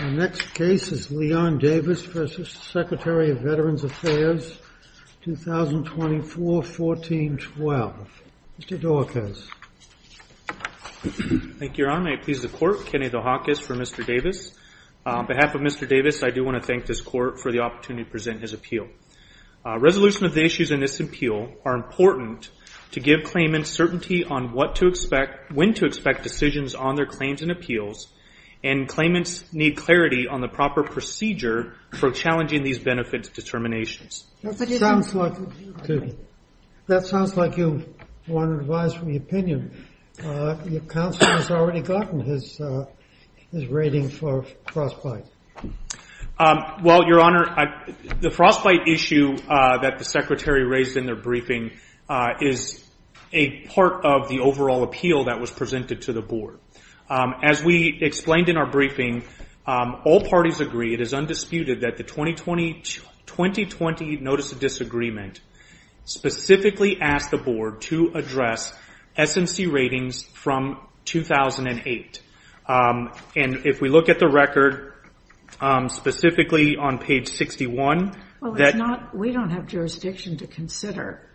The next case is Leon Davis v. Secretary of Veterans Affairs, 2024-14-12. Mr. DeHakis. Thank you, Your Honor. I please the Court. Kenny DeHakis for Mr. Davis. On behalf of Mr. Davis, I do want to thank this Court for the opportunity to present his appeal. Resolution of the issues in this appeal are important to give claimants certainty on what to expect, when to expect decisions on their claims and appeals, and claimants need clarity on the proper procedure for challenging these benefits determinations. That sounds like you want advice from the opinion. Your counsel has already gotten his rating for frostbite. Well, Your Honor, the frostbite issue that the Secretary raised in their briefing is a part of the overall appeal that was presented to the Board. As we explained in our briefing, all parties agree it is undisputed that the 2020 Notice of Disagreement specifically asked the Board to address SMC ratings from 2008. If we look at the record, specifically on page 61... We don't have jurisdiction to consider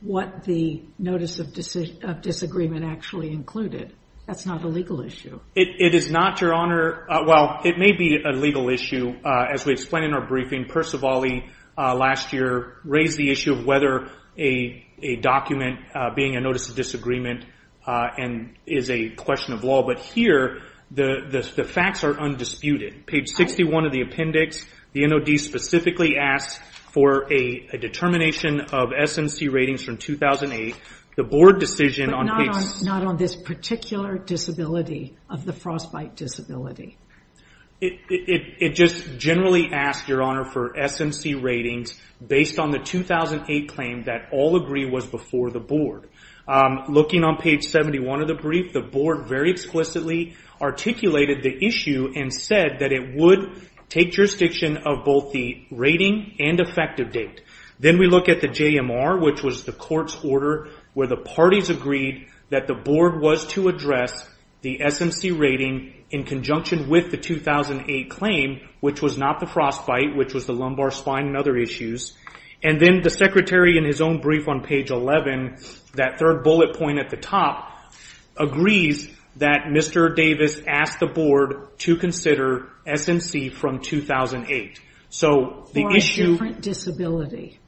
what the Notice of Disagreement actually included. That's not a legal issue. It is not, Your Honor. Well, it may be a legal issue. As we explained in our briefing, Percivali last year raised the issue of whether a document being a Notice of Disagreement is a question of law. But here, the facts are undisputed. Page 61 of the appendix, the NOD specifically asked for a determination of SMC ratings from 2008. But not on this particular disability of the frostbite disability. It just generally asked, Your Honor, for SMC ratings based on the 2008 claim that all agree was before the Board. Looking on page 71 of the brief, the Board very explicitly articulated the issue and said that it would take jurisdiction of both the rating and effective date. Then we look at the JMR, which was the court's order where the parties agreed that the Board was to address the SMC rating in conjunction with the 2008 claim, which was not the frostbite, which was the lumbar spine and other issues. And then the Secretary, in his own brief on page 11, that third bullet point at the top, agrees that Mr. Davis asked the Board to consider SMC from 2008. For a different disability.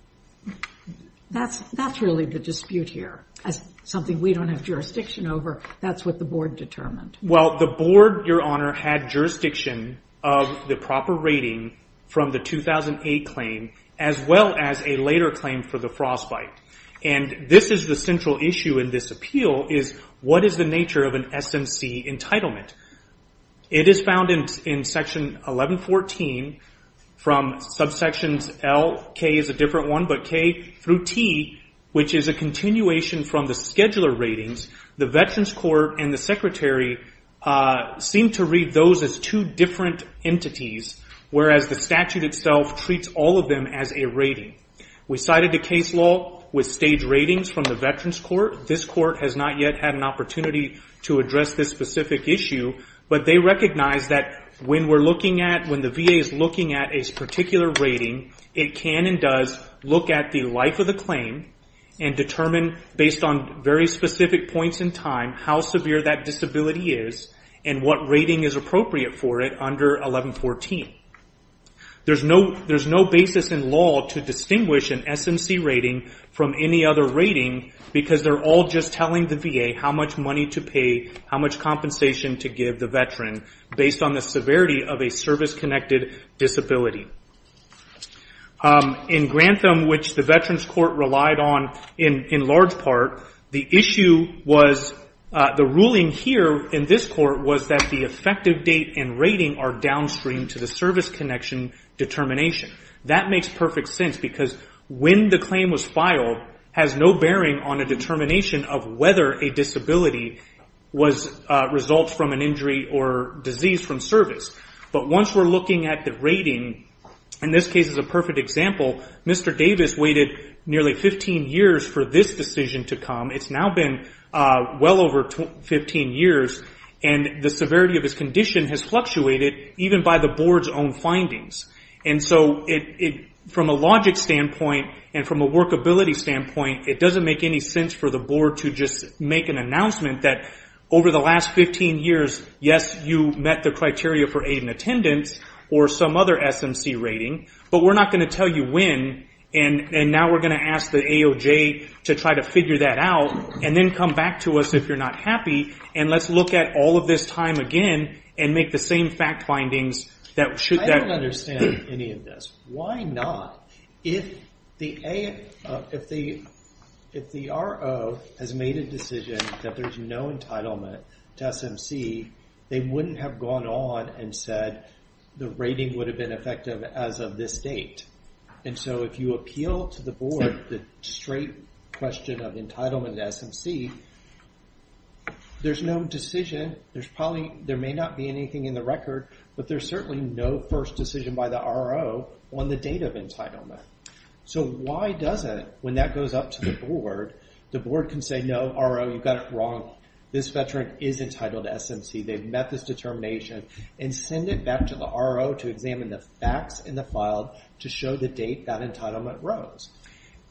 That's really the dispute here. As something we don't have jurisdiction over, that's what the Board determined. Well, the Board, Your Honor, had jurisdiction of the proper rating from the 2008 claim, as well as a later claim for the frostbite. And this is the central issue in this appeal, is what is the nature of an SMC entitlement? It is found in section 1114 from subsections L, K is a different one, but K through T, which is a continuation from the scheduler ratings, the Veterans Court and the Secretary seem to read those as two different entities, whereas the statute itself treats all of them as a rating. We cited a case law with staged ratings from the Veterans Court. This court has not yet had an opportunity to address this specific issue, but they recognize that when we're looking at, when the VA is looking at a particular rating, it can and does look at the life of the claim and determine, based on very specific points in time, how severe that disability is, and what rating is appropriate for it under 1114. There's no basis in law to distinguish an SMC rating from any other rating, because they're all just telling the VA how much money to pay, how much compensation to give the Veteran, based on the severity of a service-connected disability. In Grantham, which the Veterans Court relied on in large part, the issue was, the ruling here in this court was that the effective date and rating are downstream to the service connection determination. That makes perfect sense, because when the claim was filed, has no bearing on a determination of whether a disability results from an injury or disease from service. But once we're looking at the rating, and this case is a perfect example, Mr. Davis waited nearly 15 years for this decision to come. It's now been well over 15 years, and the severity of his condition has fluctuated, even by the board's own findings. From a logic standpoint, and from a workability standpoint, it doesn't make any sense for the board to just make an announcement that, over the last 15 years, yes, you met the criteria for aid and attendance, or some other SMC rating, but we're not going to tell you when, and now we're going to ask the AOJ to try to figure that out, and then come back to us if you're not happy, and let's look at all of this time again, and make the same fact findings that should... I don't understand any of this. Why not? If the RO has made a decision that there's no entitlement to SMC, they wouldn't have gone on and said the rating would have been effective as of this date. And so if you appeal to the board the straight question of entitlement to SMC, there's no decision. There may not be anything in the record, but there's certainly no first decision by the RO on the date of entitlement. So why doesn't, when that goes up to the board, the board can say, no, RO, you've got it wrong. This veteran is entitled to SMC. They've met this determination, and send it back to the RO to examine the facts in the file to show the date that entitlement rose.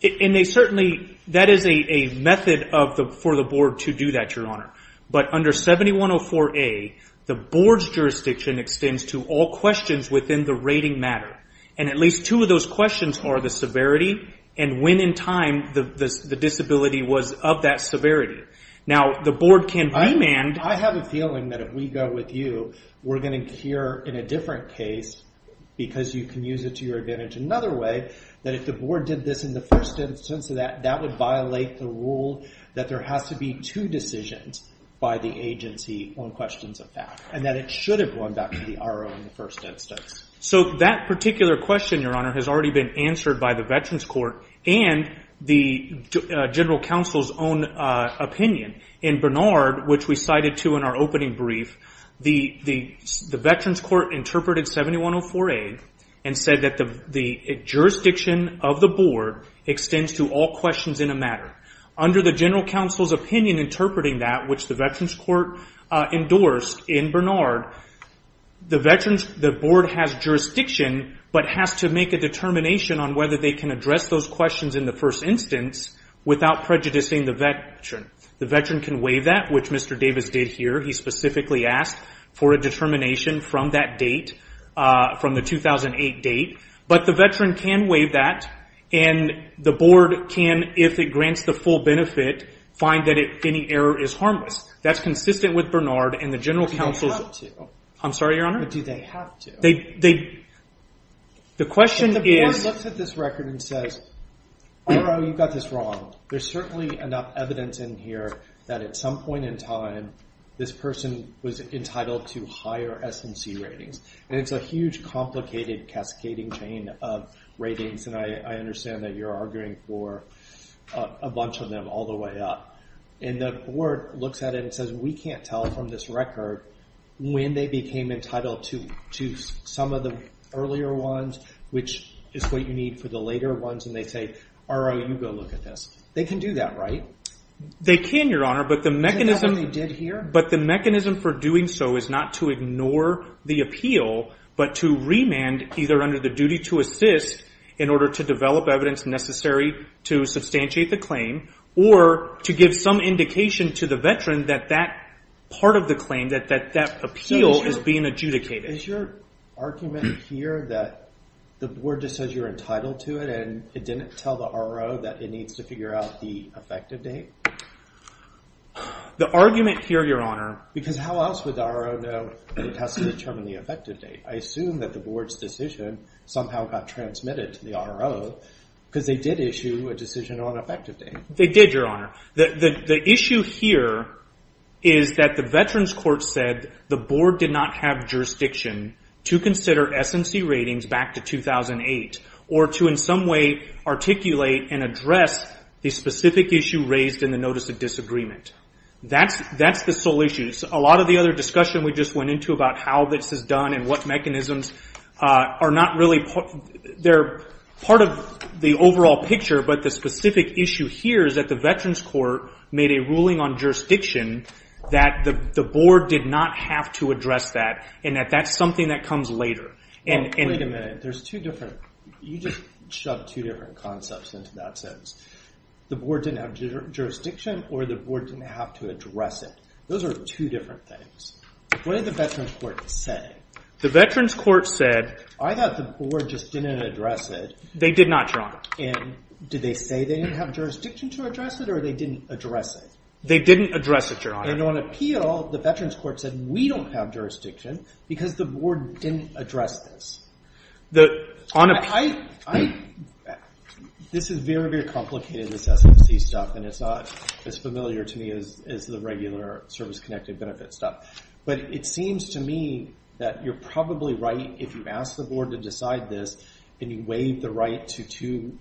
And they certainly, that is a method for the board to do that, Your Honor. But under 7104A, the board's jurisdiction extends to all questions within the rating matter. And at least two of those questions are the severity, and when in time the disability was of that severity. Now, the board can remand... I have a feeling that if we go with you, we're going to cure in a different case, because you can use it to your advantage another way, that if the board did this in the first instance, that would violate the rule that there has to be two decisions by the agency on questions of fact, and that it should have gone back to the RO in the first instance. So that particular question, Your Honor, has already been answered by the Veterans Court and the General Counsel's own opinion. In Bernard, which we cited too in our opening brief, the Veterans Court interpreted 7104A and said that the jurisdiction of the board extends to all questions in a matter. Under the General Counsel's opinion interpreting that, which the Veterans Court endorsed in Bernard, the board has jurisdiction but has to make a determination on whether they can address those questions in the first instance without prejudicing the veteran. The veteran can waive that, which Mr. Davis did here. He specifically asked for a determination from that date, from the 2008 date. But the veteran can waive that, and the board can, if it grants the full benefit, find that any error is harmless. That's consistent with Bernard and the General Counsel's... I'm sorry, Your Honor? Do they have to? The question is... If the board looks at this record and says, RO, you've got this wrong, there's certainly enough evidence in here that at some point in time this person was entitled to higher SNC ratings. And it's a huge, complicated, cascading chain of ratings, and I understand that you're arguing for a bunch of them all the way up. And the board looks at it and says, we can't tell from this record when they became entitled to some of the earlier ones, which is what you need for the later ones, and they say, RO, you go look at this. They can do that, right? They can, Your Honor. Isn't that what they did here? But the mechanism for doing so is not to ignore the appeal, but to remand either under the duty to assist in order to develop evidence necessary to substantiate the claim, or to give some indication to the veteran that that part of the claim, that that appeal is being adjudicated. Is your argument here that the board just says you're entitled to it and it didn't tell the RO that it needs to figure out the effective date? The argument here, Your Honor. Because how else would the RO know that it has to determine the effective date? I assume that the board's decision somehow got transmitted to the RO because they did issue a decision on effective date. They did, Your Honor. The issue here is that the Veterans Court said the board did not have jurisdiction to consider SNC ratings back to 2008, or to in some way articulate and address the specific issue raised in the Notice of Disagreement. That's the sole issue. A lot of the other discussion we just went into about how this is done and what mechanisms are not really part of the overall picture, but the specific issue here is that the Veterans Court made a ruling on jurisdiction that the board did not have to address that and that that's something that comes later. Wait a minute. You just shoved two different concepts into that sentence. The board didn't have jurisdiction or the board didn't have to address it. Those are two different things. What did the Veterans Court say? The Veterans Court said... I thought the board just didn't address it. They did not, Your Honor. Did they say they didn't have jurisdiction to address it or they didn't address it? They didn't address it, Your Honor. And on appeal, the Veterans Court said we don't have jurisdiction because the board didn't address this. On appeal? This is very, very complicated, this SNC stuff, and it's not as familiar to me as the regular service-connected benefit stuff. But it seems to me that you're probably right if you ask the board to decide this and you waive the right to two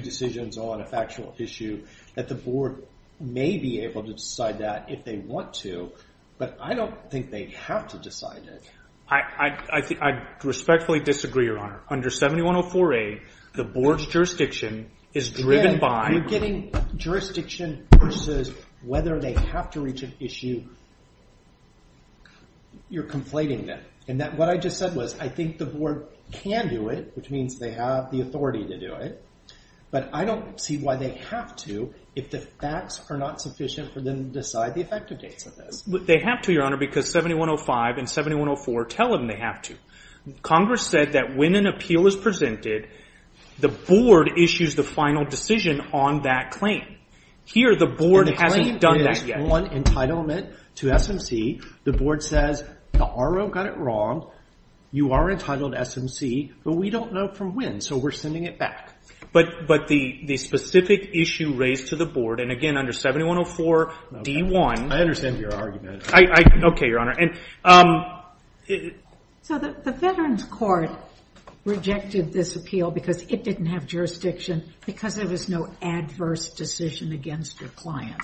decisions on a factual issue that the board may be able to decide that if they want to, but I don't think they have to decide it. I respectfully disagree, Your Honor. Under 7104A, the board's jurisdiction is driven by... Again, you're getting jurisdiction versus whether they have to reach an issue. You're conflating them. And what I just said was I think the board can do it, which means they have the authority to do it, but I don't see why they have to if the facts are not sufficient for them to decide the effective dates of this. They have to, Your Honor, because 7105 and 7104 tell them they have to. Congress said that when an appeal is presented, the board issues the final decision on that claim. Here, the board hasn't done that yet. The claim is on entitlement to SNC. The board says the R.O. got it wrong. You are entitled to SNC, but we don't know from when, so we're sending it back. But the specific issue raised to the board, and again, under 7104D1... I understand your argument. Okay, Your Honor. So the Veterans Court rejected this appeal because it didn't have jurisdiction because there was no adverse decision against the client.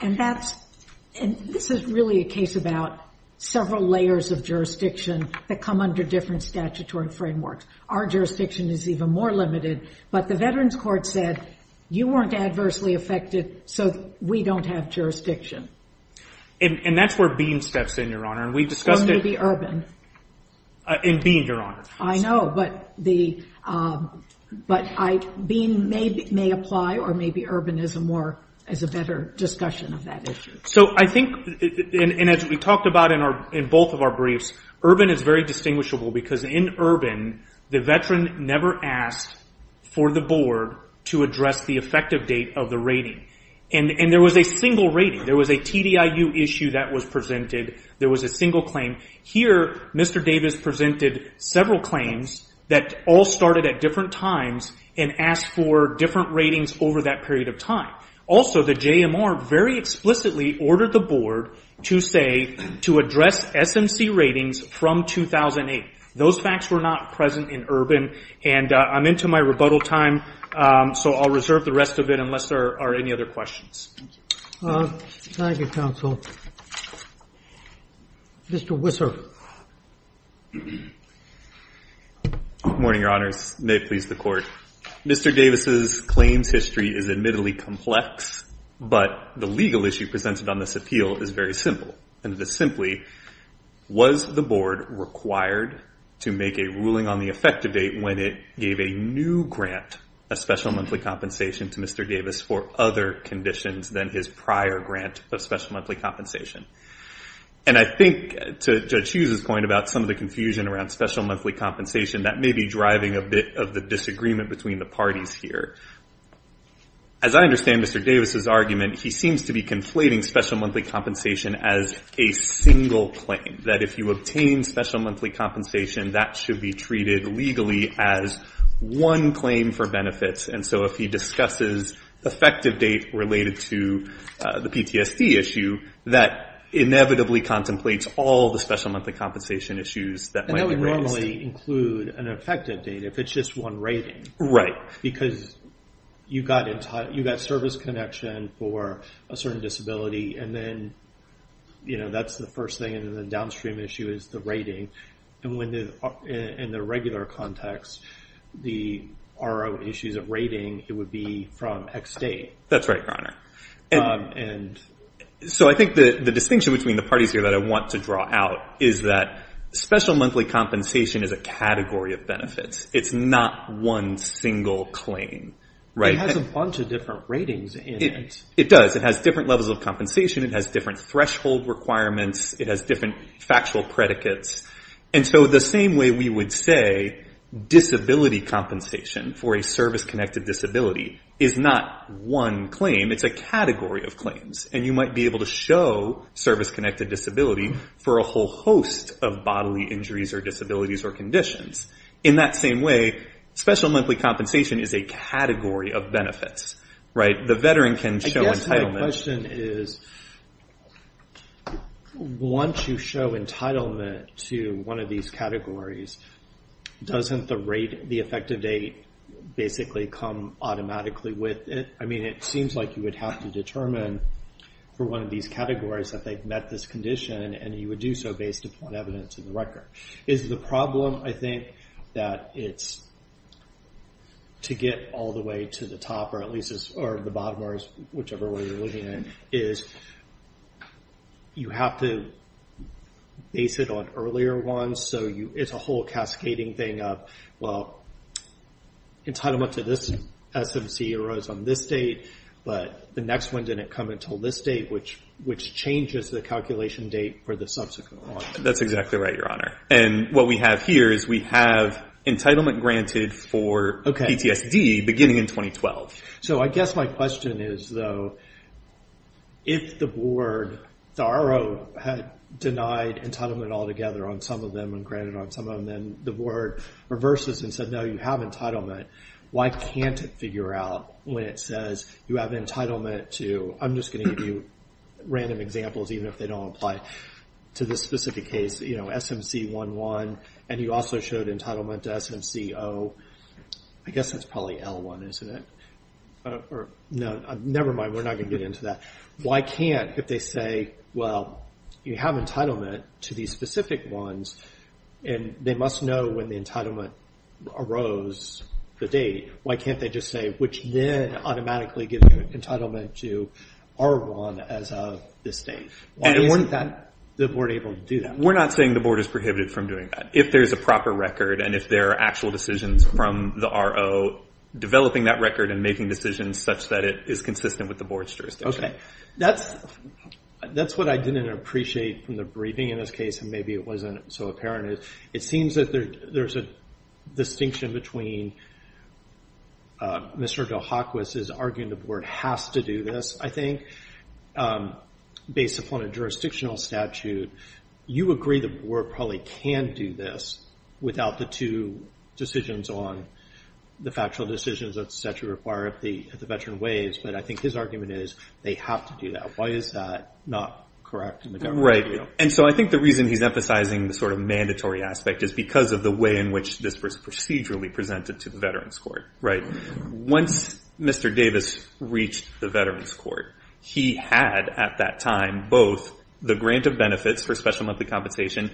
And this is really a case about several layers of jurisdiction that come under different statutory frameworks. Our jurisdiction is even more limited, but the Veterans Court said you weren't adversely affected, so we don't have jurisdiction. And that's where Bean steps in, Your Honor. Or maybe Urban. In Bean, Your Honor. I know, but Bean may apply, or maybe Urban is a better discussion of that issue. So I think, and as we talked about in both of our briefs, Urban is very distinguishable because in Urban, the veteran never asked for the board to address the effective date of the rating. And there was a single rating. There was a TDIU issue that was presented. There was a single claim. Here, Mr. Davis presented several claims that all started at different times and asked for different ratings over that period of time. Also, the JMR very explicitly ordered the board to say, to address SMC ratings from 2008. Those facts were not present in Urban. And I'm into my rebuttal time, so I'll reserve the rest of it unless there are any other questions. Thank you, counsel. Mr. Wisser. Good morning, Your Honors. May it please the Court. Mr. Davis's claims history is admittedly complex, but the legal issue presented on this appeal is very simple, and it is simply, was the board required to make a ruling on the effective date when it gave a new grant of special monthly compensation to Mr. Davis for other conditions than his prior grant of special monthly compensation? And I think, to Judge Hughes's point, about some of the confusion around special monthly compensation, that may be driving a bit of the disagreement between the parties here. As I understand Mr. Davis's argument, he seems to be conflating special monthly compensation as a single claim, that if you obtain special monthly compensation, that should be treated legally as one claim for benefits. And so if he discusses effective date related to the PTSD issue, that inevitably contemplates all the special monthly compensation issues that might be raised. And that would normally include an effective date if it's just one rating. Right. Because you got service connection for a certain disability, and then that's the first thing, and then the downstream issue is the rating. And in the regular context, the RO issues of rating, it would be from X date. That's right, Your Honor. So I think the distinction between the parties here that I want to draw out is that special monthly compensation is a category of benefits. It's not one single claim. It has a bunch of different ratings in it. It does. It has different levels of compensation. It has different threshold requirements. It has different factual predicates. And so the same way we would say disability compensation for a service connected disability is not one claim. It's a category of claims. And you might be able to show service connected disability for a whole host of bodily injuries or disabilities or conditions. In that same way, special monthly compensation is a category of benefits. Right? The veteran can show entitlement. I guess my question is once you show entitlement to one of these categories, doesn't the rate, the effective date, basically come automatically with it? I mean, it seems like you would have to determine for one of these categories that they've met this condition, and you would do so based upon evidence in the record. Is the problem, I think, that it's to get all the way to the top, or at least the bottom, or whichever way you're looking at it, is you have to base it on earlier ones. So it's a whole cascading thing of, well, entitlement to this SMC arose on this date, but the next one didn't come until this date, which changes the calculation date for the subsequent one. That's exactly right, Your Honor. And what we have here is we have entitlement granted for PTSD beginning in 2012. So I guess my question is, though, if the board, Tharo, had denied entitlement altogether on some of them and granted on some of them, and then the board reverses and said, no, you have entitlement, why can't it figure out when it says you have entitlement to, I'm just going to give you random examples, even if they don't apply to this specific case, SMC-11, and you also showed entitlement to SMC-O. I guess that's probably L-1, isn't it? No, never mind, we're not going to get into that. Why can't, if they say, well, you have entitlement to these specific ones, and they must know when the entitlement arose, the date, why can't they just say, which then automatically gives you entitlement to R-1 as of this date? Why weren't the board able to do that? We're not saying the board is prohibited from doing that. If there's a proper record and if there are actual decisions from the RO, developing that record and making decisions such that it is consistent with the board's jurisdiction. Okay, that's what I didn't appreciate from the briefing in this case, and maybe it wasn't so apparent. It seems that there's a distinction between Mr. Dohokwis' arguing the board has to do this, I think, based upon a jurisdictional statute. You agree the board probably can do this without the two decisions on the factual decisions that statute require at the veteran waives, but I think his argument is they have to do that. Why is that not correct in the government's view? I think the reason he's emphasizing the mandatory aspect is because of the way in which this was procedurally presented to the veterans court. Once Mr. Davis reached the veterans court, he had at that time both the grant of benefits for special monthly compensation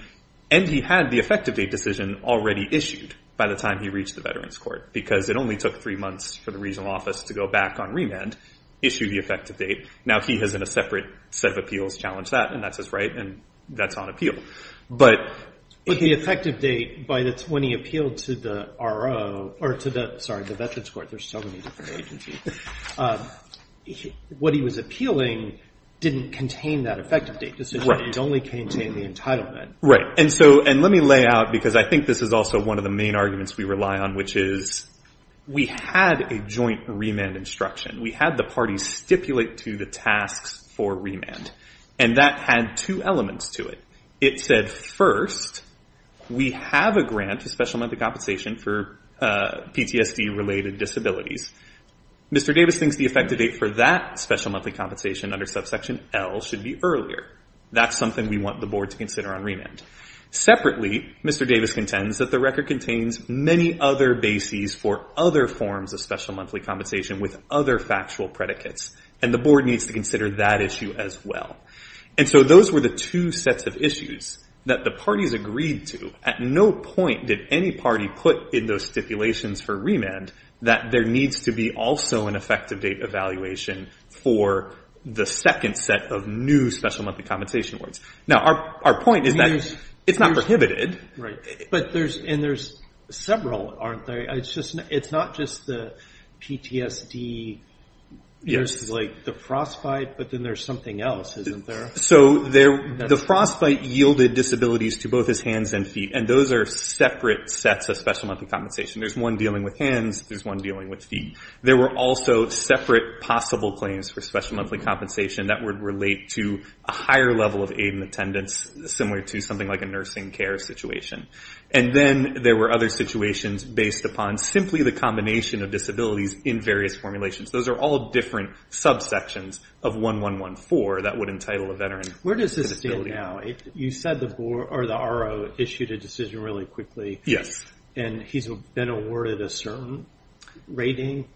and he had the effective date decision already issued by the time he reached the veterans court because it only took three months for the regional office to go back on remand, issue the effective date. Now he has in a separate set of appeals challenged that, and that's his right, and that's on appeal. But the effective date, when he appealed to the RO, or to the, sorry, the veterans court, there's so many different agencies, what he was appealing didn't contain that effective date decision. It only contained the entitlement. Right. And let me lay out, because I think this is also one of the main arguments we rely on, which is we had a joint remand instruction. We had the parties stipulate to the tasks for remand, and that had two elements to it. It said, first, we have a grant of special monthly compensation for PTSD-related disabilities. Mr. Davis thinks the effective date for that special monthly compensation under subsection L should be earlier. That's something we want the board to consider on remand. Separately, Mr. Davis contends that the record contains many other bases for other forms of special monthly compensation with other factual predicates, and the board needs to consider that issue as well. And so those were the two sets of issues that the parties agreed to. At no point did any party put in those stipulations for remand that there needs to be also an effective date evaluation for the second set of new special monthly compensation awards. Now, our point is that it's not prohibited. Right. And there's several, aren't there? It's not just the PTSD. There's the frostbite, but then there's something else, isn't there? The frostbite yielded disabilities to both his hands and feet, and those are separate sets of special monthly compensation. There's one dealing with hands. There's one dealing with feet. There were also separate possible claims for special monthly compensation that would relate to a higher level of aid and attendance, similar to something like a nursing care situation. And then there were other situations based upon simply the combination of disabilities in various formulations. Those are all different subsections of 1114 that would entitle a veteran. Where does this stand now? You said the RO issued a decision really quickly. Yes. And he's been awarded a certain rating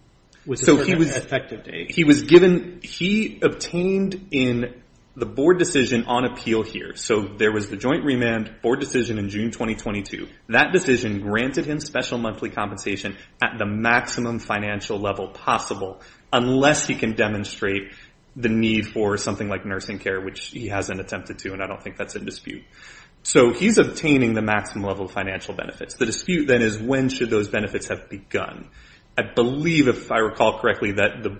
with a certain effective date. He was given – he obtained in the board decision on appeal here. So there was the joint remand board decision in June 2022. That decision granted him special monthly compensation at the maximum financial level possible, unless he can demonstrate the need for something like nursing care, which he hasn't attempted to, and I don't think that's in dispute. So he's obtaining the maximum level of financial benefits. The dispute, then, is when should those benefits have begun? I believe, if I recall correctly, that the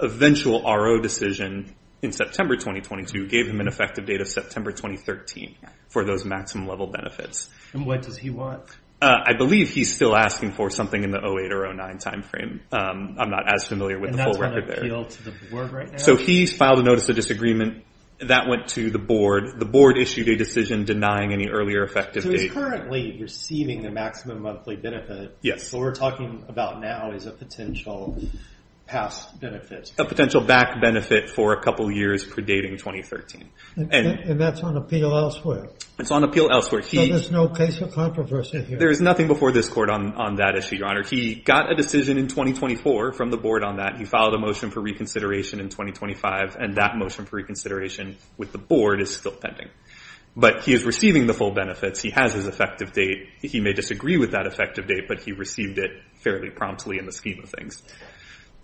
eventual RO decision in September 2022 gave him an effective date of September 2013 for those maximum level benefits. And what does he want? I believe he's still asking for something in the 08 or 09 timeframe. I'm not as familiar with the full record there. And that's on appeal to the board right now? So he's filed a notice of disagreement. That went to the board. The board issued a decision denying any earlier effective date. So he's currently receiving a maximum monthly benefit. Yes. What we're talking about now is a potential past benefit. A potential back benefit for a couple years predating 2013. And that's on appeal elsewhere? It's on appeal elsewhere. So there's no case of controversy here? There is nothing before this court on that issue, Your Honor. He got a decision in 2024 from the board on that. He filed a motion for reconsideration in 2025, and that motion for reconsideration with the board is still pending. But he is receiving the full benefits. He has his effective date. He may disagree with that effective date, but he received it fairly promptly in the scheme of things.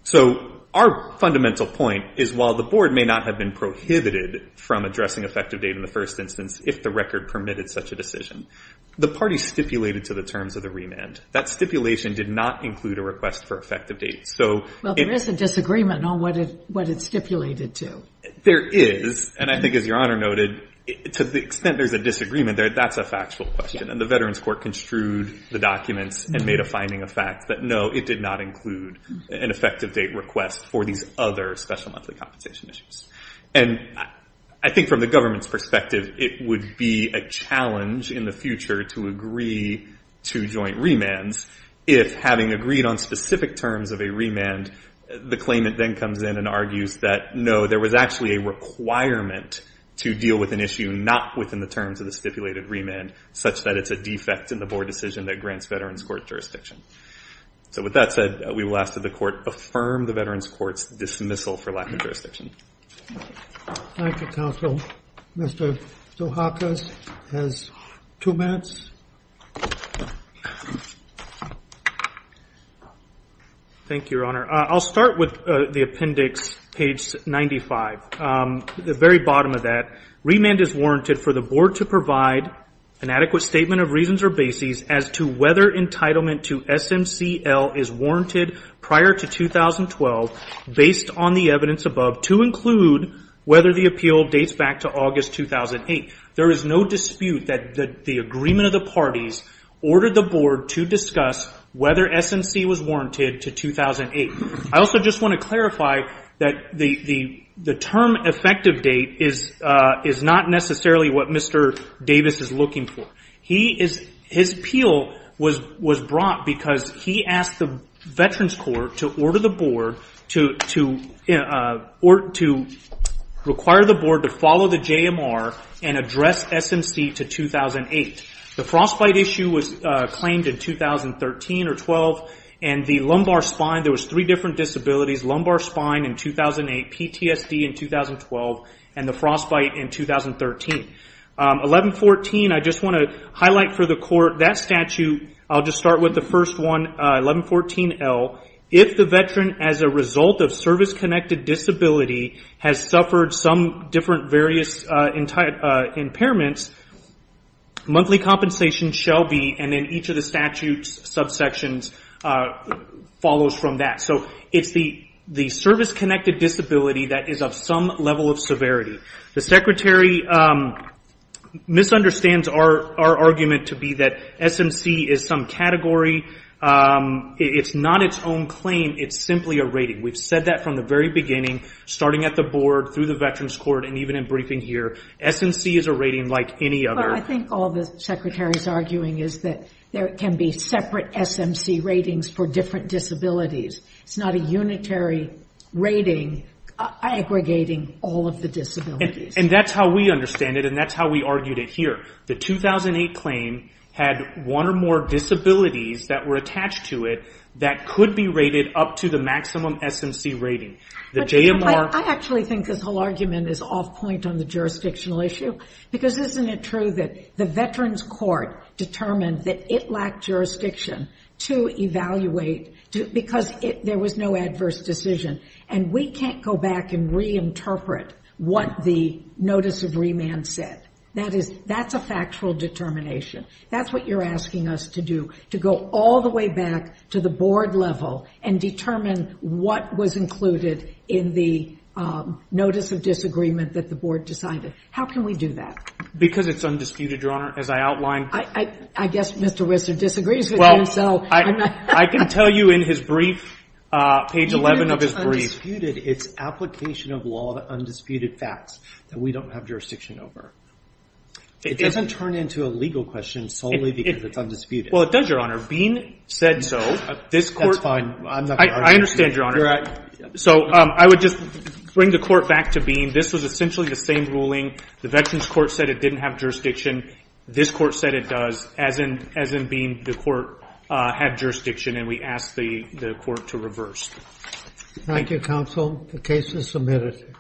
So our fundamental point is, while the board may not have been prohibited from addressing effective date in the first instance, if the record permitted such a decision, the party stipulated to the terms of the remand. That stipulation did not include a request for effective date. Well, there is a disagreement on what it stipulated to. There is. And I think, as Your Honor noted, to the extent there's a disagreement, that's a factual question. And the Veterans Court construed the documents and made a finding of fact that, no, it did not include an effective date request for these other special monthly compensation issues. And I think from the government's perspective, it would be a challenge in the future to agree to joint remands if, having agreed on specific terms of a remand, the claimant then comes in and argues that, no, there was actually a requirement to deal with an issue not within the terms of the stipulated remand, such that it's a defect in the board decision that grants Veterans Court jurisdiction. So with that said, we will ask that the Court affirm the Veterans Court's dismissal for lack of jurisdiction. Thank you, counsel. Mr. Zohakis has two minutes. Thank you, Your Honor. I'll start with the appendix, page 95. At the very bottom of that, remand is warranted for the board to provide an adequate statement of reasons or bases as to whether entitlement to SMCL is warranted prior to 2012, based on the evidence above, to include whether the appeal dates back to August 2008. There is no dispute that the agreement of the parties ordered the board to discuss whether SMC was warranted to 2008. I also just want to clarify that the term effective date is not necessarily what Mr. Davis is looking for. His appeal was brought because he asked the Veterans Court to order the board to require the board to follow the JMR and address SMC to 2008. The frostbite issue was claimed in 2013 or 12, and the lumbar spine, there was three different disabilities, lumbar spine in 2008, PTSD in 2012, and the frostbite in 2013. 1114, I just want to highlight for the court that statute. I'll just start with the first one, 1114L. If the Veteran, as a result of service-connected disability, has suffered some different various impairments, monthly compensation shall be, and then each of the statute's subsections follows from that. It's the service-connected disability that is of some level of severity. The secretary misunderstands our argument to be that SMC is some category. It's not its own claim. It's simply a rating. We've said that from the very beginning, starting at the board, through the Veterans Court, and even in briefing here. SMC is a rating like any other. Well, I think all the secretary is arguing is that there can be separate SMC ratings for different disabilities. It's not a unitary rating aggregating all of the disabilities. And that's how we understand it, and that's how we argued it here. The 2008 claim had one or more disabilities that were attached to it that could be rated up to the maximum SMC rating. I actually think this whole argument is off point on the jurisdictional issue, because isn't it true that the Veterans Court determined that it lacked jurisdiction to evaluate, because there was no adverse decision? And we can't go back and reinterpret what the notice of remand said. That's a factual determination. That's what you're asking us to do, to go all the way back to the board level and determine what was included in the notice of disagreement that the board decided. How can we do that? Because it's undisputed, Your Honor, as I outlined. I guess Mr. Risser disagrees with me, so. I can tell you in his brief, page 11 of his brief. It's undisputed. It's application of law to undisputed facts that we don't have jurisdiction over. It doesn't turn into a legal question solely because it's undisputed. Well, it does, Your Honor. Bean said so. That's fine. I understand, Your Honor. So I would just bring the court back to Bean. This was essentially the same ruling. The Veterans Court said it didn't have jurisdiction. This court said it does, as in Bean, the court had jurisdiction, and we asked the court to reverse. Thank you, counsel. The case is submitted.